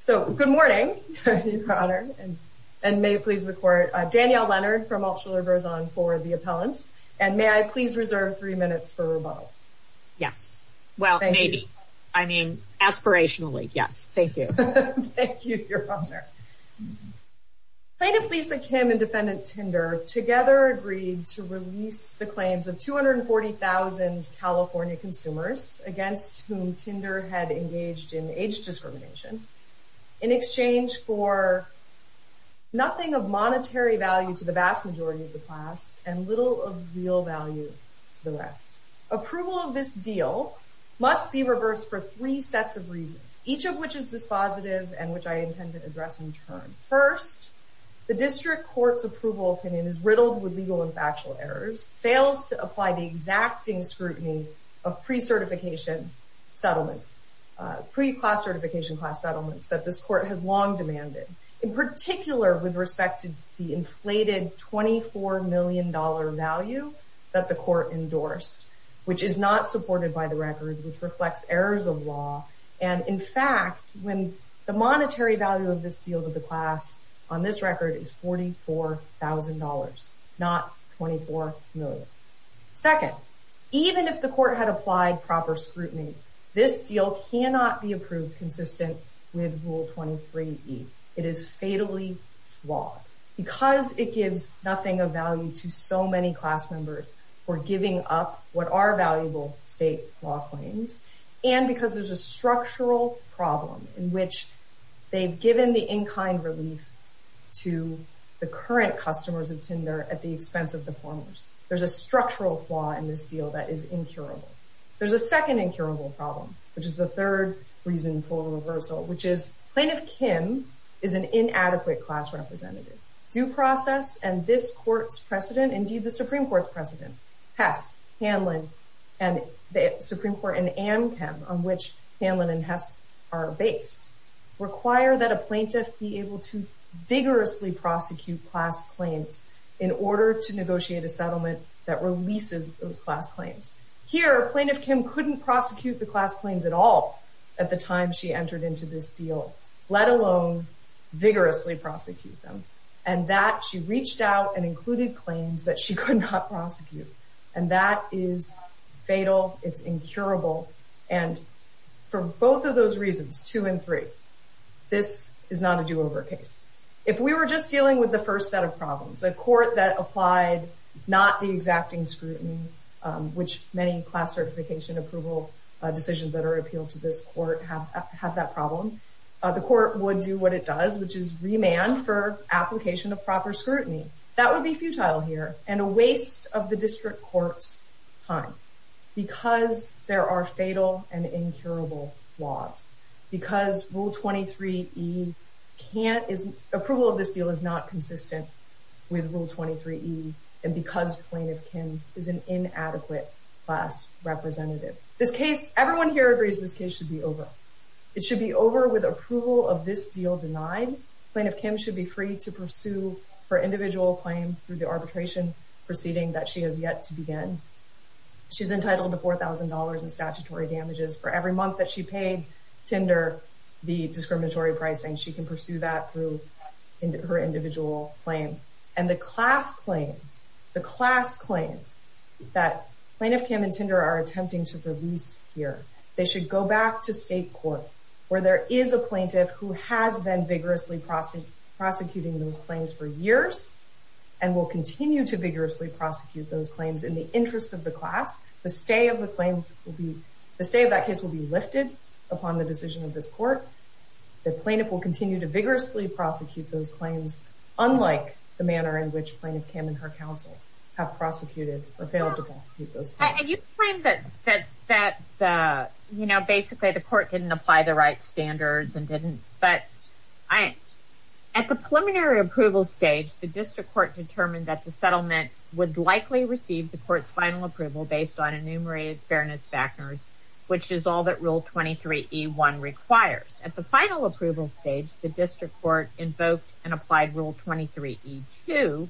So, good morning, Your Honor, and may it please the Court, Danielle Leonard from Altshuler-Groszon for the appellants, and may I please reserve three minutes for rebuttal? Yes. Well, maybe. I mean, aspirationally, yes. Thank you. Thank you, Your Honor. Plaintiff Lisa Kim and Defendant Tinder together agreed to release the claims of 240,000 California consumers against whom Tinder had engaged in age discrimination in exchange for nothing of monetary value to the vast majority of the class and little of real value to the rest. Approval of this deal must be reversed for three sets of reasons, each of which is dispositive and which I intend to address in turn. First, the district court's approval opinion is riddled with legal and factual errors, fails to apply the exacting scrutiny of pre-certification settlements, pre-class certification class settlements that this court has long demanded, in particular with respect to the inflated $24 million value that the court endorsed, which is not supported by the record, which reflects errors of law, and in fact, when the monetary value of this deal to the class on this record is $44,000, not $24 million. Second, even if the court had applied proper scrutiny, this deal cannot be approved consistent with Rule 23E, it is fatally flawed because it gives nothing of value to so many class members for giving up what are valuable state law claims, and because there's a structural problem in which they've given the in-kind relief to the current customers of Tinder at the expense of the former's. There's a structural flaw in this deal that is incurable. There's a second incurable problem, which is the third reason for reversal, which is Plaintiff Kim is an inadequate class representative. Due process and this court's precedent, indeed the Supreme Court's precedent, Hess, Hanlon, and the Supreme Court, and Amchem, on which Hanlon and Hess are based, require that a plaintiff be able to vigorously prosecute class claims in order to negotiate a settlement that releases those class claims. Here, Plaintiff Kim couldn't prosecute the class claims at all at the time she entered into this deal, let alone vigorously prosecute them, and that she reached out and included claims that she could not prosecute, and that is fatal, it's incurable, and for both of those reasons, two and three, this is not a do-over case. If we were just dealing with the first set of problems, a court that applied not the exacting scrutiny, which many class certification approval decisions that are appealed to this court have that problem, the court would do what it does, which is remand for application of proper scrutiny. That would be futile here, and a waste of the district court's time because there are fatal and incurable laws. Because Rule 23E, approval of this deal is not consistent with Rule 23E, and because Plaintiff Kim is an inadequate class representative. This case, everyone here agrees this case should be over. It should be over with approval of this deal denied. Plaintiff Kim should be free to pursue her individual claim through the arbitration proceeding that she has yet to begin. She's entitled to $4,000 in statutory damages for every month that she paid Tinder the discriminatory pricing. She can pursue that through her individual claim. And the class claims, the class claims that Plaintiff Kim and Tinder are attempting to release here, they should go back to state court where there is a plaintiff who has been vigorously prosecuting those claims for years and will continue to vigorously prosecute those claims in the interest of the class. The stay of the claims will be, the stay of that case will be lifted upon the decision of this court. The plaintiff will continue to vigorously prosecute those claims, unlike the manner in which Plaintiff Kim and her counsel have prosecuted or failed to prosecute those claims. And you claimed that basically the court didn't apply the right standards and didn't, but at the preliminary approval stage, the district court determined that the settlement would likely receive the court's final approval based on enumerated fairness factors, which is all that rule 23E1 requires. At the final approval stage, the district court invoked and applied rule 23E2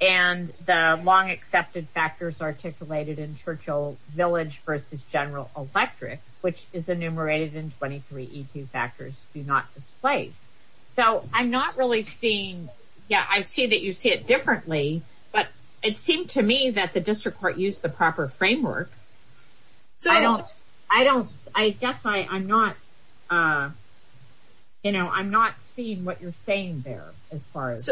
and the long accepted factors articulated in Churchill Village versus General Electric, which is enumerated in 23E2 factors do not displace. So I'm not really seeing, yeah, I see that you see it differently, but it seemed to me that the district court used the proper framework. So I don't, I guess I'm not, you know, I'm not seeing what you're saying there as far as.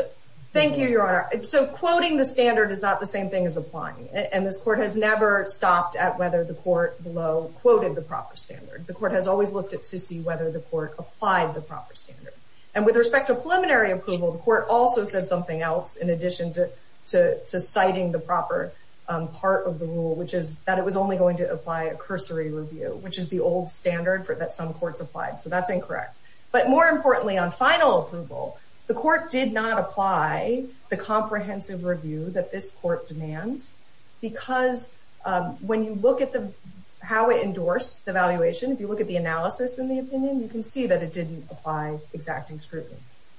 Thank you, Your Honor. So quoting the standard is not the same thing as applying. And this court has never stopped at whether the court below quoted the proper standard. The court has always looked at to see whether the court applied the proper standard. And with respect to preliminary approval, the court also said something else in addition to citing the proper part of the rule, which is that it was only going to apply a cursory review, which is the old standard that some courts applied. So that's incorrect. But more importantly, on final approval, the court did not apply the comprehensive review that this court demands, because when you look at how it endorsed the valuation, if you look at the analysis and the opinion, you can see that it didn't apply exacting scrutiny.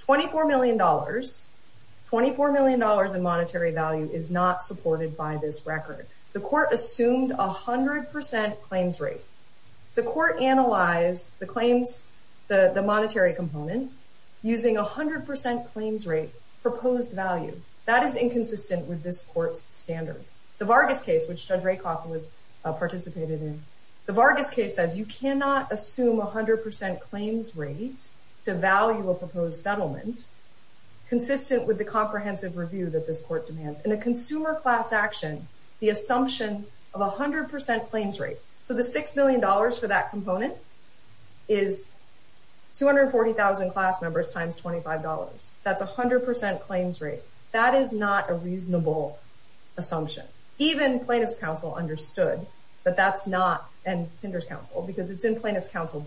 $24 million, $24 million in monetary value is not supported by this record. The court assumed 100% claims rate. The court analyzed the claims, the monetary component, using 100% claims rate proposed value. That is inconsistent with this court's standards. The Vargas case, which Judge Rakoff participated in, the Vargas case says you cannot assume 100% claims rate to value a proposed settlement consistent with the comprehensive review that this court demands. In a consumer class action, the assumption of 100% claims rate, so the $6 million for that component is 240,000 class members times $25. That's 100% claims rate. That is not a reasonable assumption. Even plaintiff's counsel understood that that's not, and Tinder's counsel, because it's in plaintiff's counsel's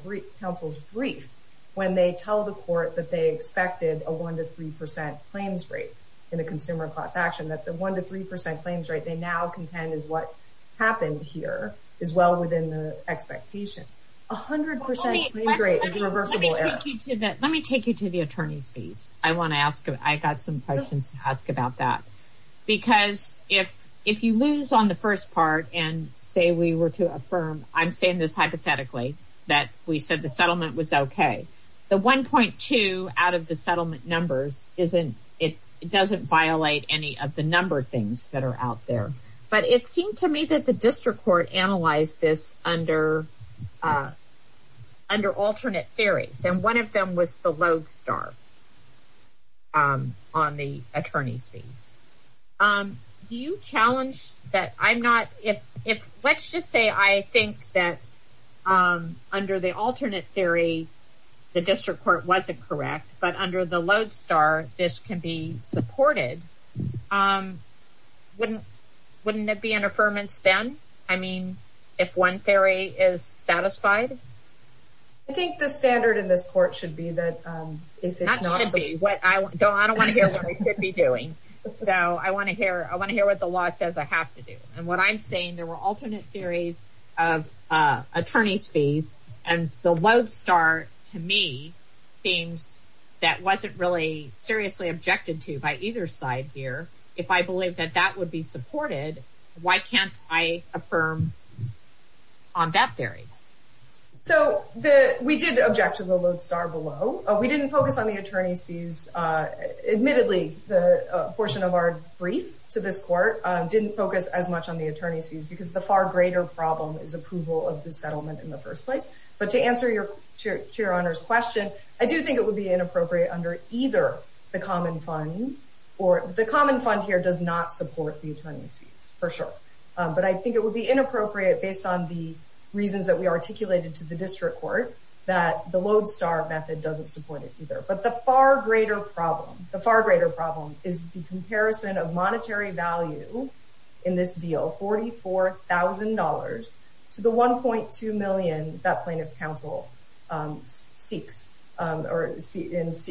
brief when they tell the court that they expected a one to 3% claims rate in a consumer class action, that the one to 3% claims rate they now contend is what happened here is well within the expectations. 100% claims rate is reversible error. Let me take you to the attorney's piece. I want to ask, I got some questions to ask about that. Because if you lose on the first part and say we were to affirm, I'm saying this hypothetically, that we said the settlement was okay. The 1.2 out of the settlement numbers isn't, it doesn't violate any of the number things that are out there. But it seemed to me that the district court analyzed this under alternate theories. And one of them was the lodestar on the attorney's piece. Do you challenge that I'm not, if let's just say I think that under the alternate theory, the district court wasn't correct, but under the lodestar, this can be supported. Wouldn't it be an affirmance then? I mean, if one theory is satisfied? I think the standard in this court should be that if it's not so. Not gonna be, I don't want to hear what I should be doing. So I want to hear what the law says I have to do. And what I'm saying, there were alternate theories of attorney's fees and the lodestar to me seems that wasn't really seriously objected to by either side here. If I believe that that would be supported, why can't I affirm on that theory? So we did object to the lodestar below. We didn't focus on the attorney's fees. Admittedly, the portion of our brief to this court didn't focus as much on the attorney's fees because the far greater problem is approval of the settlement in the first place. But to answer your Chair Oner's question, I do think it would be inappropriate under either the common fund or the common fund here does not support the attorney's fees for sure. But I think it would be inappropriate based on the reasons that we articulated to the district court that the lodestar method doesn't support it either. But the far greater problem, the far greater problem is the comparison of monetary value in this deal, $44,000 to the 1.2 million that plaintiff's counsel seeks or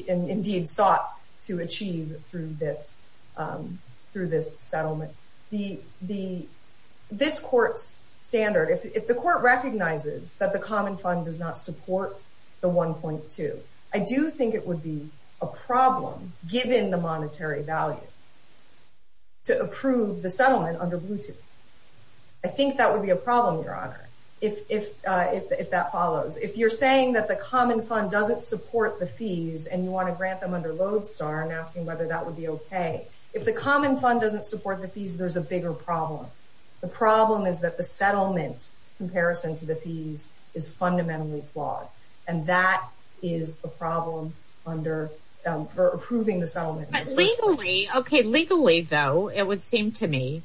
indeed sought to achieve through this settlement. This court's standard, if the court recognizes that the common fund does not support the 1.2, I do think it would be a problem given the monetary value to approve the settlement under Bluetooth. I think that would be a problem, Your Honor, if that follows. If you're saying that the common fund doesn't support the fees and you want to grant them under lodestar and asking whether that would be okay, if the common fund doesn't support the fees, there's a bigger problem. The problem is that the settlement comparison to the fees is fundamentally flawed. And that is a problem for approving the settlement. But legally, okay, legally though, it would seem to me,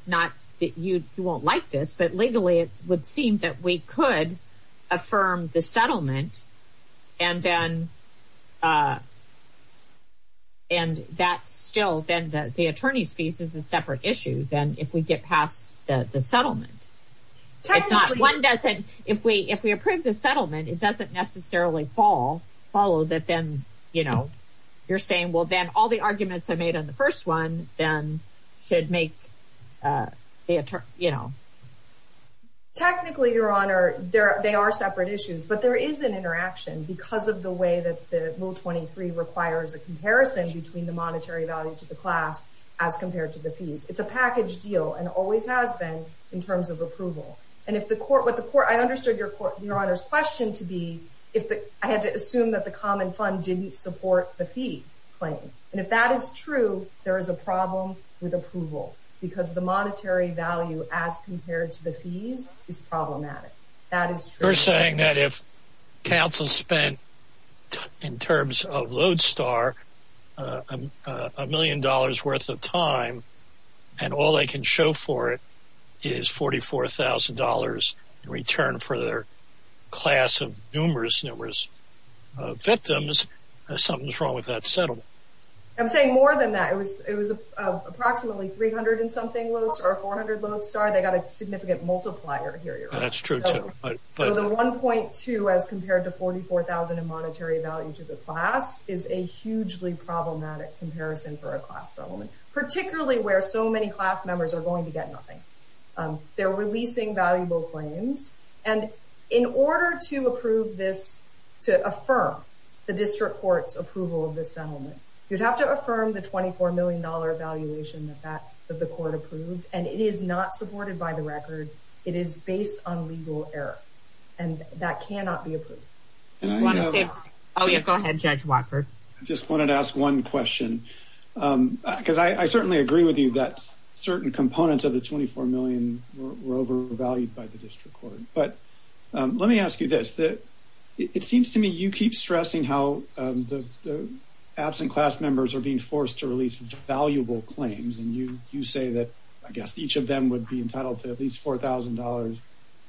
you won't like this, but legally, it would seem that we could affirm the settlement and then, and that still, then the attorney's fees is a separate issue than if we get past the settlement. It's not, one doesn't, if we approve the settlement, it doesn't necessarily follow that then, you know, you're saying, well, then all the arguments I made on the first one then should make the, you know, technically, your honor, they are separate issues, but there is an interaction because of the way that the rule 23 requires a comparison between the monetary value to the class as compared to the fees. It's a package deal and always has been in terms of approval. And if the court, what the court, I understood your honor's question to be, if I had to assume that the common fund didn't support the fee claim. And if that is true, there is a problem with approval because the monetary value as compared to the fees is problematic. That is true. You're saying that if counsel spent in terms of Lodestar, a million dollars worth of time, and all they can show for it is $44,000 in return for their class of numerous, numerous victims, something's wrong with that settlement. I'm saying more than that. It was approximately 300 and something Lodestar or 400 Lodestar. They got a significant multiplier here, your honor. That's true too. So the 1.2 as compared to 44,000 in monetary value to the class is a hugely problematic comparison for a class settlement, particularly where so many class members are going to get nothing. They're releasing valuable claims. And in order to approve this, to affirm the district court's approval of this settlement, you'd have to affirm the $24 million valuation that the court approved. And it is not supported by the record. It is based on legal error. And that cannot be approved. I wanna say, oh yeah, go ahead, Judge Walker. Just wanted to ask one question because I certainly agree with you that certain components of the 24 million were overvalued by the district court. But let me ask you this. It seems to me, you keep stressing how the absent class members are being forced to release valuable claims. And you say that, I guess each of them would be entitled to at least $4,000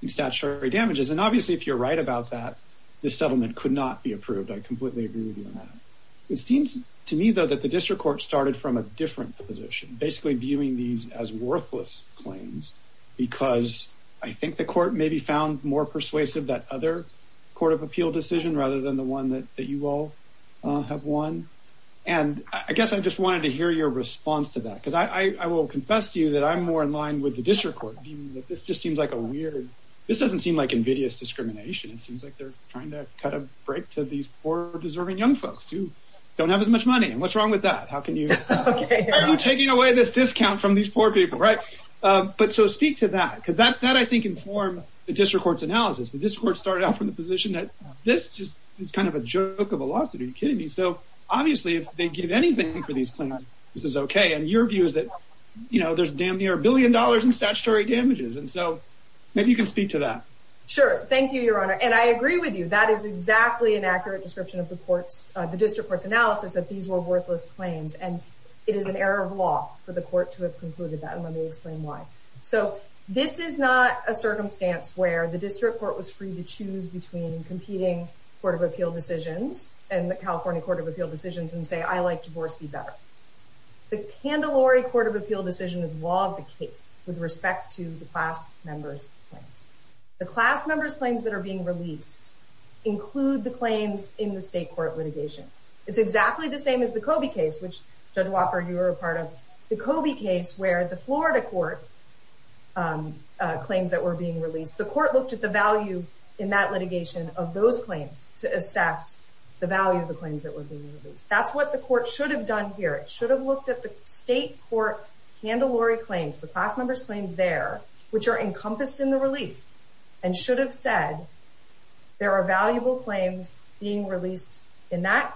in statutory damages. And obviously if you're right about that, this settlement could not be approved. I completely agree with you on that. It seems to me though, that the district court started from a different position, basically viewing these as worthless claims because I think the court maybe found more persuasive that other court of appeal decision rather than the one that you all have won. And I guess I just wanted to hear your response to that. Because I will confess to you that I'm more in line with the district court. This just seems like a weird, this doesn't seem like invidious discrimination. It seems like they're trying to cut a break to these poor deserving young folks who don't have as much money. And what's wrong with that? How can you, why are you taking away this discount from these poor people, right? But so speak to that, because that I think inform the district court's analysis. The district court started out from the position that this just is kind of a joke of a lawsuit. Are you kidding me? So obviously if they give anything for these claims, this is okay. And your view is that, there's damn near a billion dollars in statutory damages. And so maybe you can speak to that. Sure, thank you, your honor. And I agree with you. That is exactly an accurate description of the courts, the district court's analysis that these were worthless claims. And it is an error of law for the court to have concluded that. And let me explain why. So this is not a circumstance where the district court was free to choose between competing Court of Appeal decisions and the California Court of Appeal decisions and say, I like divorce be better. The Candelari Court of Appeal decision is law of the case with respect to the class members' claims. The class members' claims that are being released include the claims in the state court litigation. It's exactly the same as the Kobe case, which Judge Wofford, you were a part of. The Kobe case where the Florida court claims that were being released, the court looked at the value in that litigation of those claims to assess the value of the claims that were being released. That's what the court should have done here. It should have looked at the state court Candelari claims, the class members' claims there, which are encompassed in the release and should have said there are valuable claims being released in that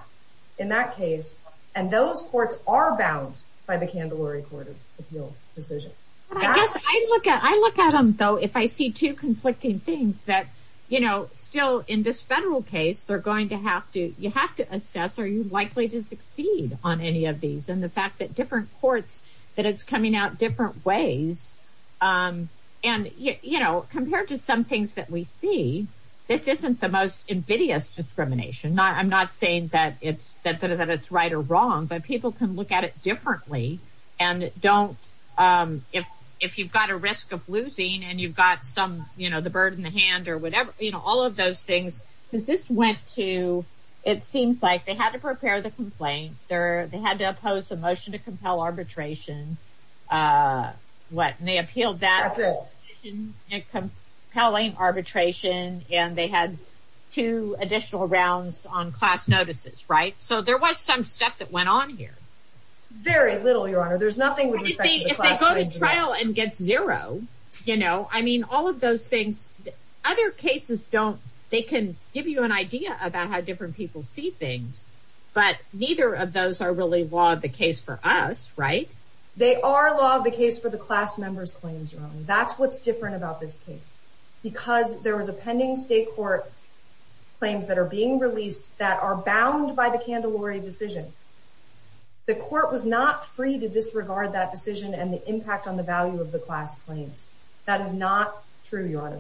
case. And those courts are bound by the Candelari Court of Appeal decision. I guess I look at them though, if I see two conflicting things that, still in this federal case, they're going to have to, you have to assess, are you likely to succeed on any of these and the fact that different courts, that it's coming out different ways. And compared to some things that we see, this isn't the most invidious discrimination. I'm not saying that it's right or wrong, but people can look at it differently and don't, if you've got a risk of losing and you've got some, the bird in the hand or whatever, all of those things, because this went to, it seems like they had to prepare the complaint. They had to oppose the motion to compel arbitration. What? And they appealed that compelling arbitration and they had two additional rounds on class notices, right? So there was some stuff that went on here. Very little, Your Honor. There's nothing with respect to the class claims. What do you think if they go to trial and get zero? I mean, all of those things, other cases don't, they can give you an idea about how different people see things, but neither of those are really law of the case for us, right? They are law of the case for the class members' claims, Your Honor. That's what's different about this case because there was a pending state court claims that are being released that are bound by the Candelari decision. The court was not free to disregard that decision and the impact on the value of the class claims. That is not true, Your Honor.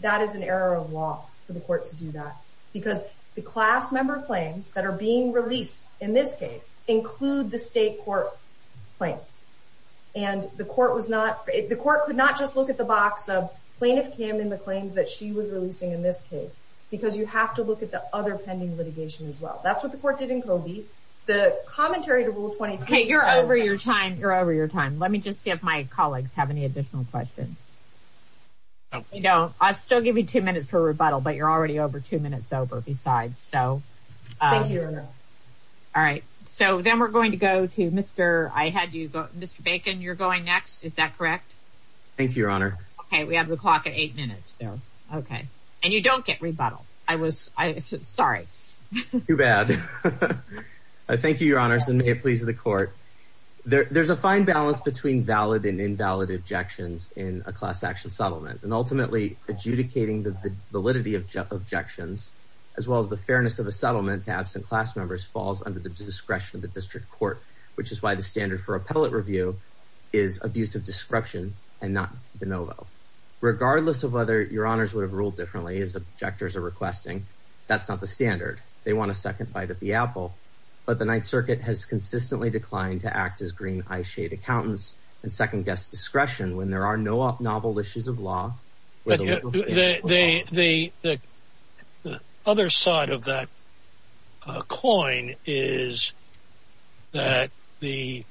That is an error of law for the court to do that because the class member claims that are being released in this case include the state court claims. And the court was not, the court could not just look at the box of plaintiff came in the claims that she was releasing in this case because you have to look at the other pending litigation as well. That's what the court did in Covey. The commentary to Rule 23- Hey, you're over your time. You're over your time. Let me just see if my colleagues have any additional questions. You know, I'll still give you two minutes for rebuttal, but you're already over two minutes over besides, so. Thank you, Your Honor. All right. So then we're going to go to Mr. I had you go, Mr. Bacon, you're going next. Is that correct? Thank you, Your Honor. Okay, we have the clock at eight minutes there. Okay. And you don't get rebuttal. I was, sorry. Too bad. Thank you, Your Honors. And may it please the court. There's a fine balance between valid and invalid objections in a class action settlement. And ultimately adjudicating the validity of objections, as well as the fairness of a settlement to absent class members, falls under the discretion of the district court, which is why the standard for appellate review is abuse of description and not de novo. Regardless of whether Your Honors would have ruled differently as the objectors are requesting, that's not the standard. They want a second bite at the apple, but the Ninth Circuit has consistently declined to act as green eye shade accountants and second guess discretion when there are no novel issues of law. Other side of that coin is that the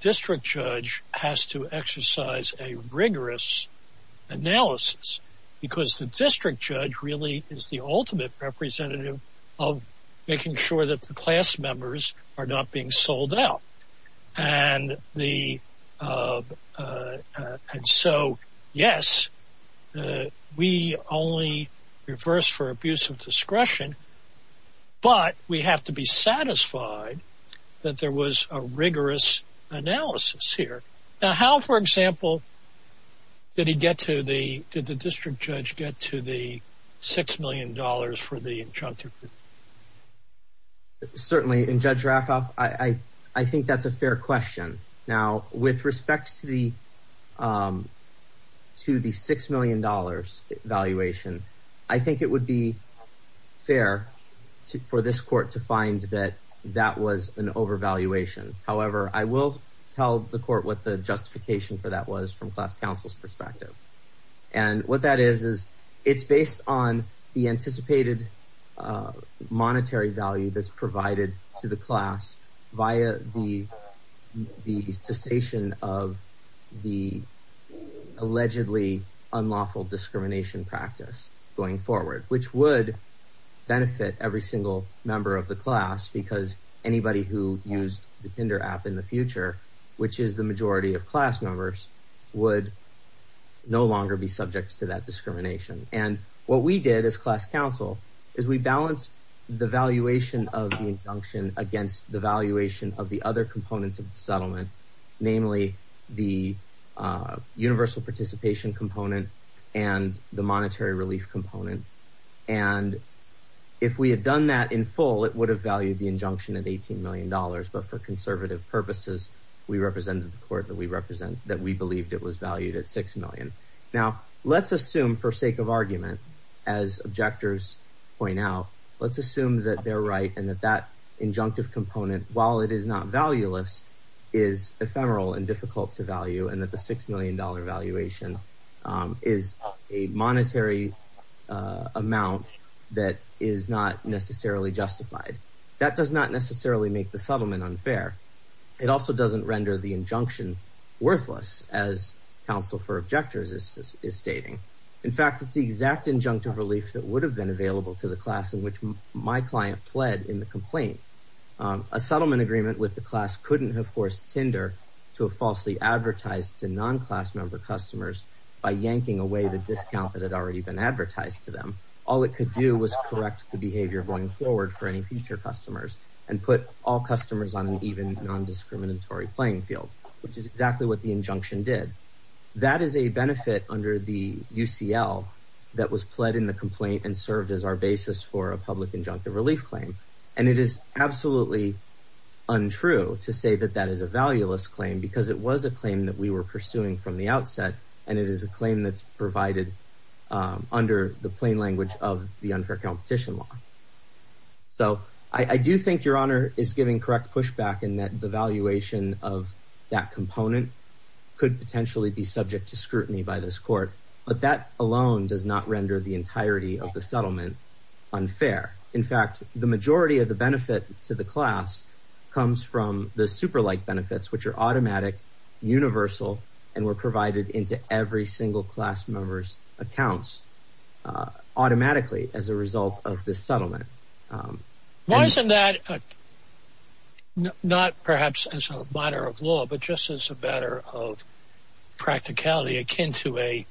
district judge has to exercise a rigorous analysis because the district judge really is the ultimate representative of making sure that the class members are not being sold out. And so, yes, we only reverse for abuse of discretion, but we have to be satisfied that there was a rigorous analysis here. Now, how, for example, did he get to the, did the district judge get to the $6 million for the injunctive? Certainly, and Judge Rakoff, I think that's a fair question. Now, with respect to the $6 million valuation, I think it would be fair for this court to find that that was an overvaluation. However, I will tell the court what the justification for that was from class counsel's perspective. And what that is, it's based on the anticipated monetary value that's provided to the class via the cessation of the allegedly unlawful discrimination practice going forward, which would benefit every single member of the class because anybody who used the Tinder app in the future, which is the majority of class members, would no longer be subject to that discrimination. And what we did as class counsel is we balanced the valuation of the injunction against the valuation of the other components of the settlement, namely the universal participation component and the monetary relief component. And if we had done that in full, it would have valued the injunction at $18 million, but for conservative purposes, we represented the court that we represent, that we believed it was valued at $6 million. Now, let's assume for sake of argument, as objectors point out, let's assume that they're right and that that injunctive component, while it is not valueless, is ephemeral and difficult to value and that the $6 million valuation is a monetary amount that is not necessarily justified. That does not necessarily make the settlement unfair. It also doesn't render the injunction worthless as counsel for objectors is stating. In fact, it's the exact injunctive relief that would have been available to the class in which my client pled in the complaint. A settlement agreement with the class couldn't have forced Tinder to falsely advertise to non-class member customers by yanking away the discount that had already been advertised to them. All it could do was correct the behavior going forward for any future customers and put all customers on an even non-discriminatory playing field, which is exactly what the injunction did. That is a benefit under the UCL that was pled in the complaint and served as our basis for a public injunctive relief claim and it is absolutely untrue to say that that is a valueless claim because it was a claim that we were pursuing from the outset and it is a claim that's provided under the plain language of the unfair competition law. So I do think Your Honor is giving correct pushback in that the valuation of that component could potentially be subject to scrutiny by this court, but that alone does not render the entirety of the settlement unfair. In fact, the majority of the benefit to the class comes from the super-like benefits, which are automatic, universal, and were provided into every single class member's accounts automatically as a result of this settlement. Why isn't that, not perhaps as a matter of law, but just as a matter of practicality akin to a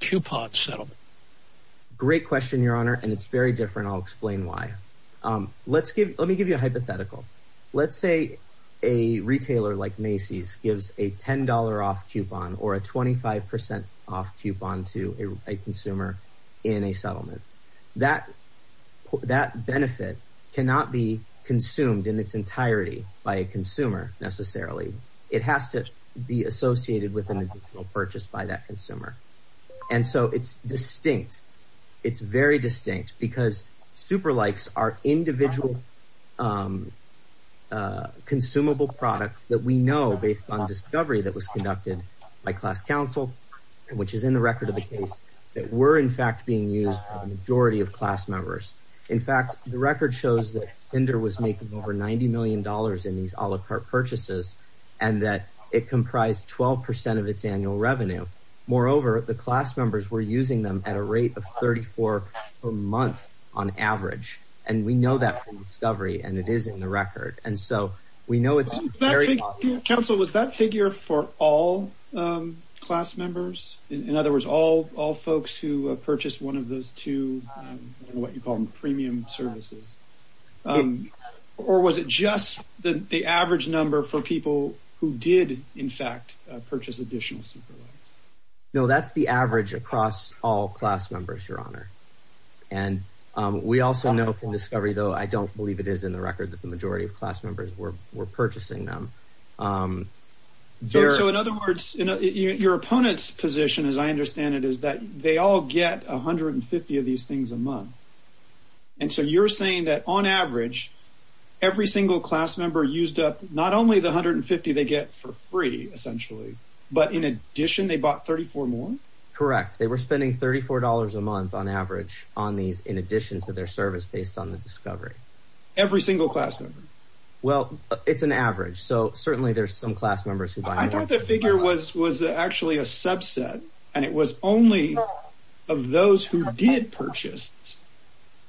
coupon settlement? Great question, Your Honor, and it's very different. I'll explain why. Let me give you a hypothetical. Let's say a retailer like Macy's gives a $10 off coupon or a 25% off coupon to a consumer in a settlement. That benefit cannot be consumed in its entirety by a consumer necessarily. It has to be associated with an individual purchase by that consumer. And so it's distinct. It's very distinct because super-likes are individual consumable products that we know based on discovery that was conducted by class counsel, which is in the record of the case, that were in fact being used by the majority of class members. In fact, the record shows that Tinder was making over $90 million in these a la carte purchases and that it comprised 12% of its annual revenue. Moreover, the class members were using them at a rate of 34 per month on average. And we know that from discovery and it is in the record. And so we know it's very- Counsel, was that figure for all class members? In other words, all folks who purchased one of those two, what you call them premium services, or was it just the average number for people who did in fact purchase additional super-likes? No, that's the average across all class members, Your Honor. And we also know from discovery though, I don't believe it is in the record that the majority of class members were purchasing them. So in other words, your opponent's position, as I understand it, is that they all get 150 of these things a month. And so you're saying that on average, every single class member used up not only the 150 they get for free essentially, but in addition, they bought 34 more? Correct, they were spending $34 a month on average on these in addition to their service based on the discovery. Every single class member? Well, it's an average. So certainly there's some class members who buy more. I thought the figure was actually a subset and it was only of those who did purchase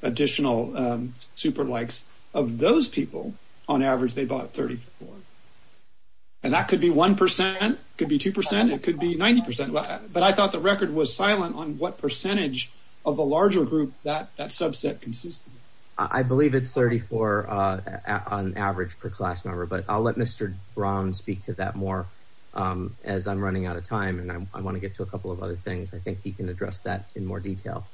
additional super-likes of those people, on average, they bought 34. And that could be 1%, could be 2%, it could be 90%. But I thought the record was silent on what percentage of the larger group that subset consists of. I believe it's 34 on average per class member, but I'll let Mr. Brown speak to that more as I'm running out of time and I wanna get to a couple of other things. I think he can address that in more detail.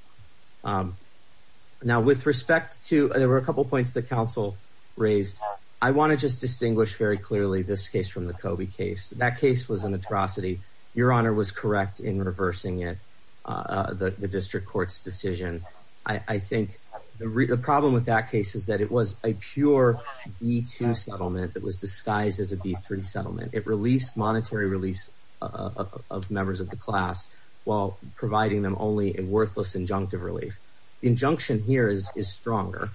Now with respect to, there were a couple of points that counsel raised. I wanna just distinguish very clearly this case from the Kobe case. That case was an atrocity. Your honor was correct in reversing it, the district court's decision. I think the problem with that case is that it was a pure B2 settlement that was disguised as a B3 settlement. It released monetary reliefs of members of the class while providing them only a worthless injunctive relief. Injunction here is stronger.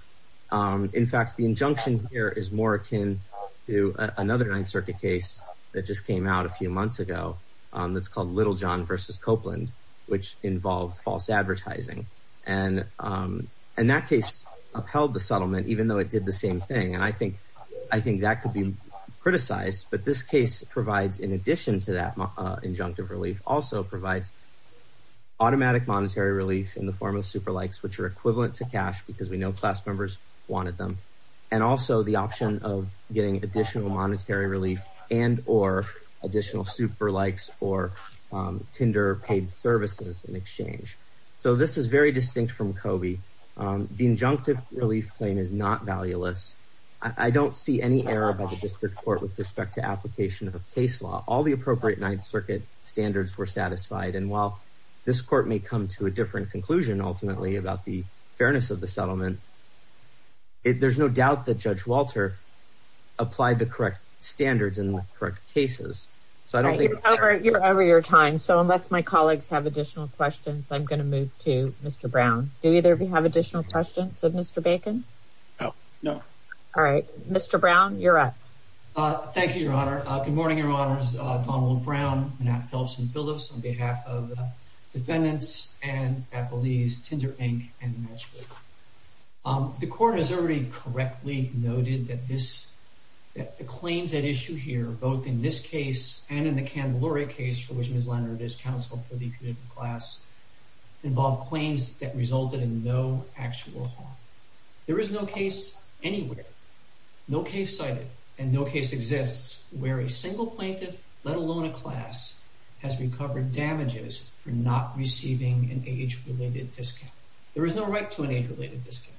In fact, the injunction here is more akin to another Ninth Circuit case that just came out a few months ago. That's called Little John versus Copeland, which involved false advertising. And that case upheld the settlement even though it did the same thing. And I think that could be criticized, but this case provides, in addition to that injunctive relief, also provides automatic monetary relief in the form of super likes, which are equivalent to cash because we know class members wanted them. And also the option of getting additional monetary relief and or additional super likes or Tinder paid services in exchange. So this is very distinct from Coby. The injunctive relief claim is not valueless. I don't see any error by the district court with respect to application of a case law. All the appropriate Ninth Circuit standards were satisfied. And while this court may come to a different conclusion ultimately about the fairness of the settlement, there's no doubt that Judge Walter applied the correct standards in the correct cases. So I don't think- You're over your time. So unless my colleagues have additional questions, I'm going to move to Mr. Brown. Do either of you have additional questions of Mr. Bacon? Oh, no. All right, Mr. Brown, you're up. Thank you, Your Honor. Good morning, Your Honors. Donald Brown, Manette Phelps, and Phyllis on behalf of defendants and appellees, Tinder Inc. and the Ninth Circuit. The court has already correctly noted that the claims at issue here, both in this case and in the Candelaria case for which Ms. Leonard is counsel for the convicted class, involve claims that resulted in no actual harm. There is no case anywhere, no case cited, and no case exists where a single plaintiff, let alone a class, has recovered damages for not receiving an age-related discount. There is no right to an age-related discount.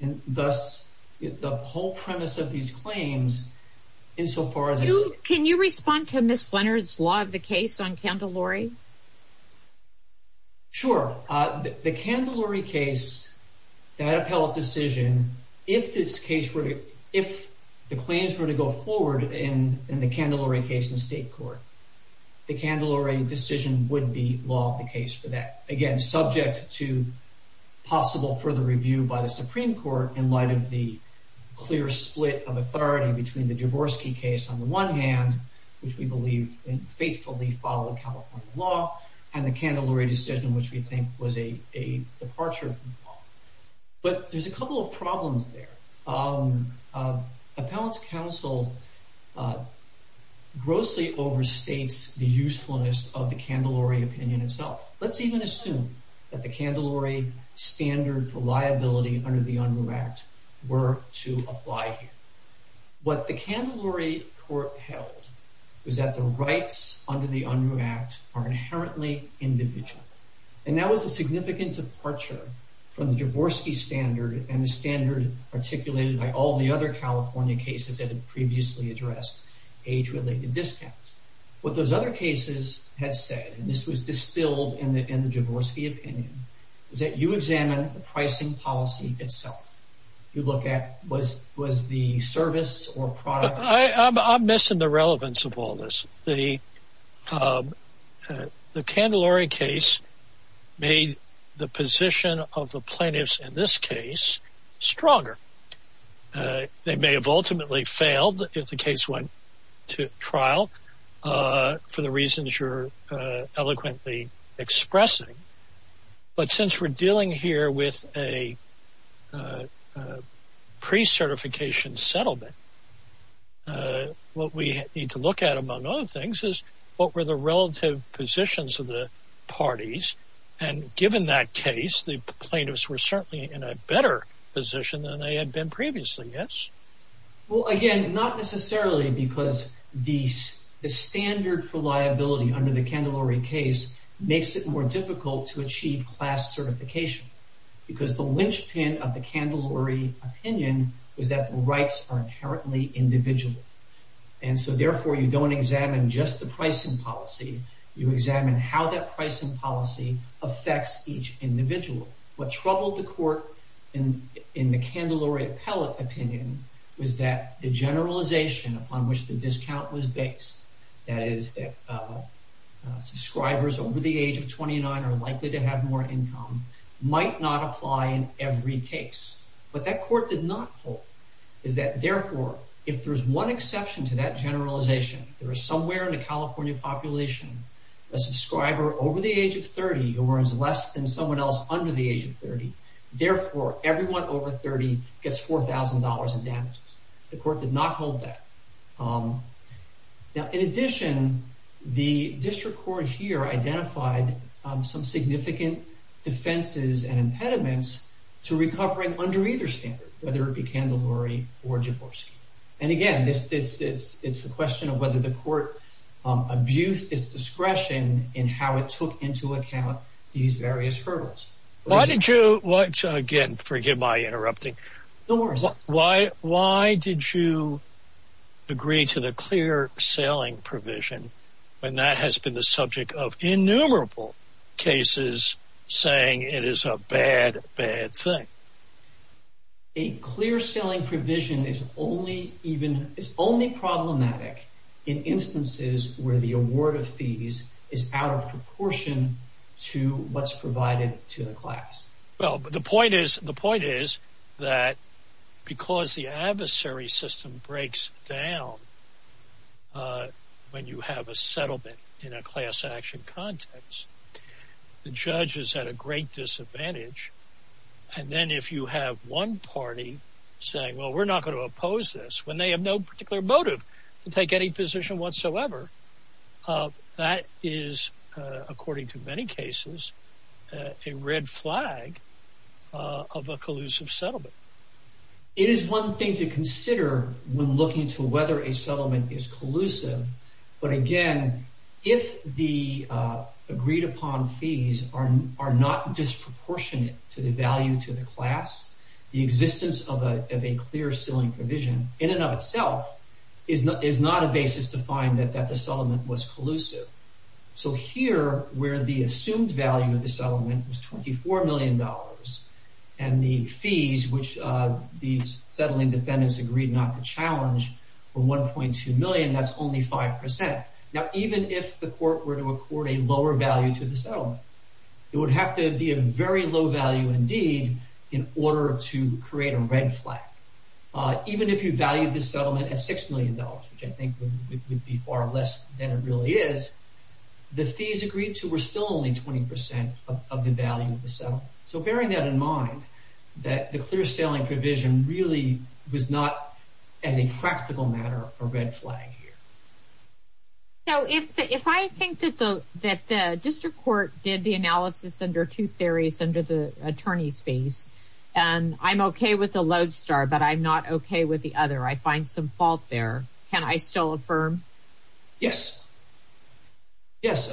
And thus, the whole premise of these claims, insofar as it's- Can you respond to Ms. Leonard's law of the case on Candelaria? Sure. The Candelaria case, that appellate decision, if this case were to, if the claims were to go forward in the Candelaria case in state court, the Candelaria decision would be law of the case for that. Again, subject to possible further review by the Supreme Court in light of the clear split of authority between the Javorski case on the one hand, which we believe faithfully followed California law, and the Candelaria decision, which we think was a departure from the law. But there's a couple of problems there. Appellate's counsel grossly overstates the usefulness of the Candelaria opinion itself. Let's even assume that the Candelaria standard for liability under the Unruh Act were to apply here. What the Candelaria court held was that the rights under the Unruh Act are inherently individual. And that was a significant departure from the Javorski standard and the standard articulated by all the other California cases that had previously addressed age-related discounts. What those other cases had said, and this was distilled in the Javorski opinion, is that you examine the pricing policy itself. You look at, was the service or product- I'm missing the relevance of all this. The Candelaria case made the position of the plaintiffs in this case stronger. They may have ultimately failed if the case went to trial for the reasons you're eloquently expressing. But since we're dealing here with a pre-certification settlement, what we need to look at, among other things, is what were the relative positions of the parties. And given that case, the plaintiffs were certainly in a better position than they had been previously, yes? Well, again, not necessarily because the standard for liability under the Candelaria case makes it more difficult to achieve class certification because the linchpin of the Candelaria opinion was that the rights are inherently individual. And so, therefore, you don't examine just the pricing policy. You examine how that pricing policy affects each individual. What troubled the court in the Candelaria appellate opinion was that the generalization upon which the discount was based, that is, that subscribers over the age of 29 are likely to have more income, might not apply in every case. What that court did not hold is that, therefore, if there's one exception to that generalization, there is somewhere in the California population a subscriber over the age of 30 who earns less than someone else under the age of 30. Therefore, everyone over 30 gets $4,000 in damages. The court did not hold that. Now, in addition, the district court here identified some significant defenses and impediments to recovering under either standard, whether it be Candelaria or Javorski. And again, it's a question of whether the court abused its discretion in how it took into account these various hurdles. Why did you, again, forgive my interrupting. No worries. Why did you agree to the clear-sailing provision when that has been the subject of innumerable cases saying it is a bad, bad thing? A clear-sailing provision is only problematic in instances where the award of fees is out of proportion to what's provided to the class. Well, the point is that because the adversary system breaks down when you have a settlement in a class action context, the judge is at a great disadvantage. And then if you have one party saying, well, we're not gonna oppose this when they have no particular motive to take any position whatsoever, that is, according to many cases, a red flag of a collusive settlement. It is one thing to consider when looking to whether a settlement is collusive. But again, if the agreed-upon fees are not disproportionate to the value to the class, the existence of a clear-sailing provision in and of itself is not a basis to find that that the settlement was collusive. So here, where the assumed value of the settlement was $24 million and the fees which these settling defendants agreed not to challenge were 1.2 million, that's only 5%. Now, even if the court were to accord a lower value to the settlement, it would have to be a very low value indeed in order to create a red flag. Even if you valued the settlement at $6 million, which I think would be far less than it really is, the fees agreed to were still only 20% of the value of the settlement. So bearing that in mind, that the clear-sailing provision really was not as a practical matter a red flag here. So if I think that the district court did the analysis under two theories under the attorney's base, and I'm okay with the lodestar, but I'm not okay with the other, I find some fault there, can I still affirm? Yes. Yes,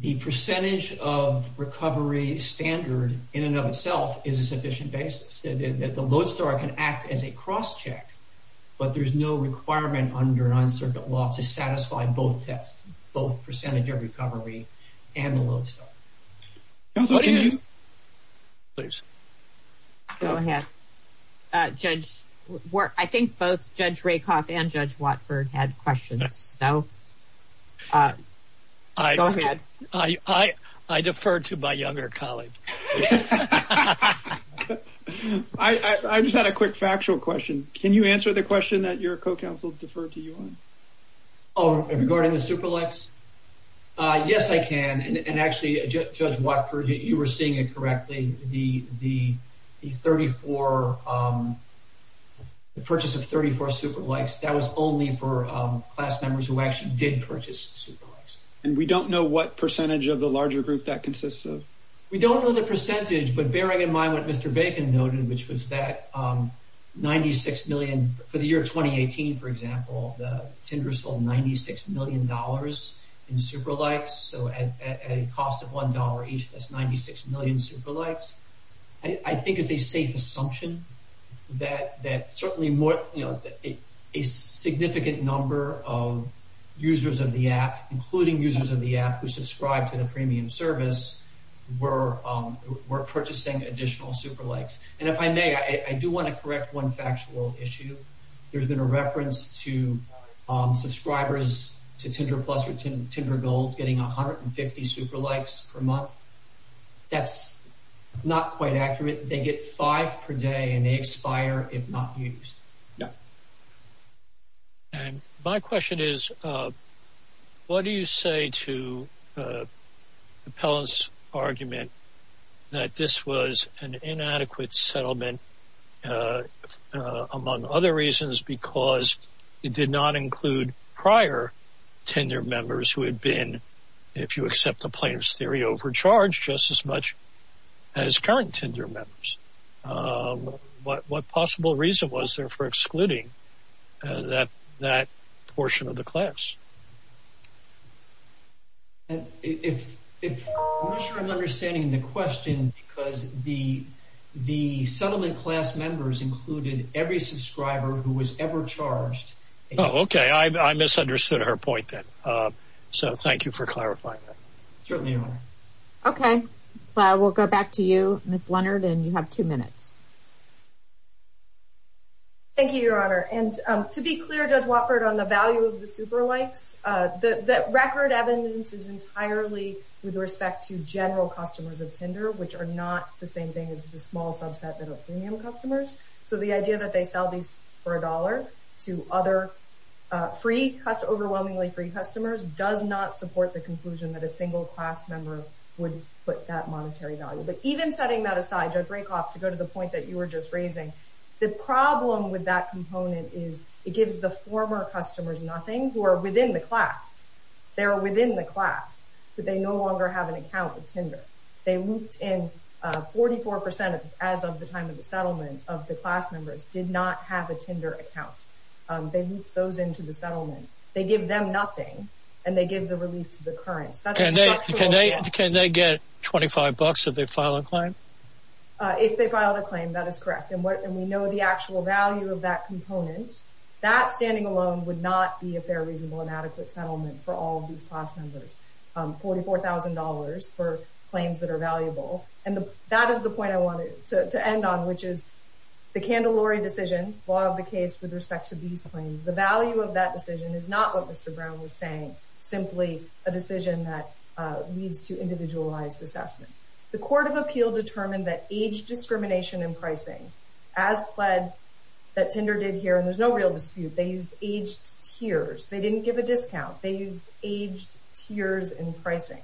the percentage of recovery standard in and of itself is a sufficient basis. The lodestar can act as a cross-check, but there's no requirement under non-circuit law to satisfy both tests, both percentage of recovery and the lodestar. Counselor, can you? Please. Go ahead. I think both Judge Rakoff and Judge Watford had questions. So, go ahead. I defer to my younger colleague. Yeah. I just had a quick factual question. Can you answer the question that your co-counsel deferred to you on? Oh, regarding the super lights? Yes, I can. And actually, Judge Watford, you were seeing it correctly. The purchase of 34 super lights, that was only for class members who actually did purchase super lights. And we don't know what percentage of the larger group that consists of? We don't know the percentage, but bearing in mind what Mr. Bacon noted, which was that 96 million, for the year 2018, for example, the tender sold $96 million in super lights, so at a cost of $1 each, that's 96 million super lights. I think it's a safe assumption that certainly a significant number of users of the app, including users of the app who subscribe to the premium service were purchasing additional super lights. And if I may, I do want to correct one factual issue. There's been a reference to subscribers to Tinder Plus or Tinder Gold getting 150 super lights per month. That's not quite accurate. They get five per day and they expire if not used. Yeah. And my question is, what do you say to Appellant's argument that this was an inadequate settlement, among other reasons, because it did not include prior Tinder members who had been, if you accept the plaintiff's theory, overcharged just as much as current Tinder members. What possible reason was there for excluding that portion of the class? If, I'm not sure I'm understanding the question because the settlement class members included every subscriber who was ever charged. Oh, okay, I misunderstood her point then. So thank you for clarifying that. Certainly, Your Honor. Okay, we'll go back to you, Ms. Leonard, and you have two minutes. Thank you, Your Honor. And to be clear, Judge Watford, on the value of the super lights, the record evidence is entirely with respect to general customers of Tinder, which are not the same thing as the small subset that are premium customers. So the idea that they sell these for a dollar to other free, overwhelmingly free customers does not support the conclusion that a single class member would put that monetary value. But even setting that aside, Judge Rakoff, to go to the point that you were just raising, the problem with that component is it gives the former customers nothing who are within the class. They are within the class, but they no longer have an account with Tinder. They looped in 44% as of the time of the settlement of the class members did not have a Tinder account. They looped those into the settlement. They give them nothing, and they give the relief to the currents. That's a structural issue. Can they get 25 bucks if they file a claim? If they file a claim, that is correct. And we know the actual value of that component. That standing alone would not be a fair, reasonable, and adequate settlement for all of these class members. $44,000 for claims that are valuable. And that is the point I wanted to end on, which is the Candelari decision, law of the case with respect to these claims, the value of that decision is not what Mr. Brown was saying, simply a decision that leads to individualized assessments. The Court of Appeal determined that age discrimination in pricing, as pled that Tinder did here, and there's no real dispute, they used aged tiers. They didn't give a discount. They used aged tiers in pricing.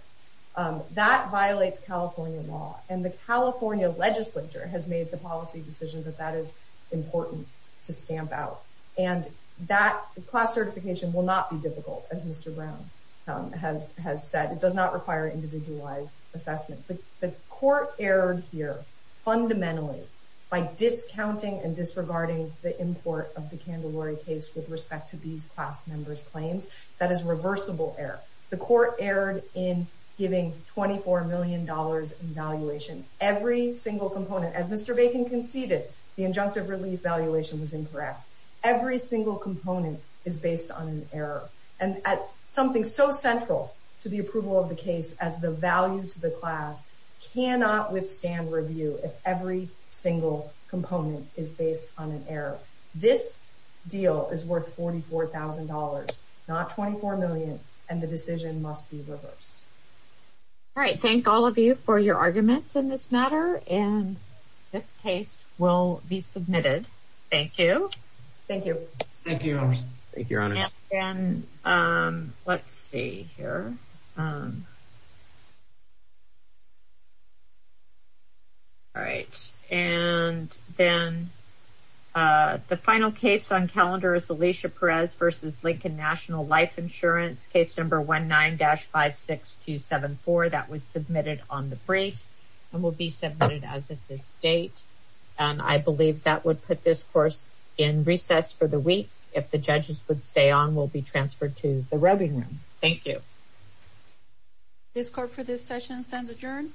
That violates California law. And the California legislature has made the policy decision that that is important to stamp out. And that class certification will not be difficult, as Mr. Brown has said. It does not require individualized assessment. The court erred here fundamentally by discounting and disregarding the import of the Candelari case with respect to these class members' claims. That is reversible error. The court erred in giving $24 million in valuation. Every single component, as Mr. Bacon conceded, the injunctive relief valuation was incorrect. Every single component is based on an error. And something so central to the approval of the case as the value to the class cannot withstand review if every single component is based on an error. This deal is worth $44,000, not $24 million, and the decision must be reversed. All right, thank all of you for your arguments in this matter, and this case will be submitted. Thank you. Thank you. Thank you, Your Honor. Thank you, Your Honor. And then, let's see here. All right, and then the final case on calendar is Alicia Perez versus Lincoln National Life Insurance, case number 19-56274. That was submitted on the briefs and will be submitted as of this date. And I believe that would put this course in recess for the week. If the judges would stay on, we'll be transferred to the roving room. Thank you. This court for this session stands adjourned.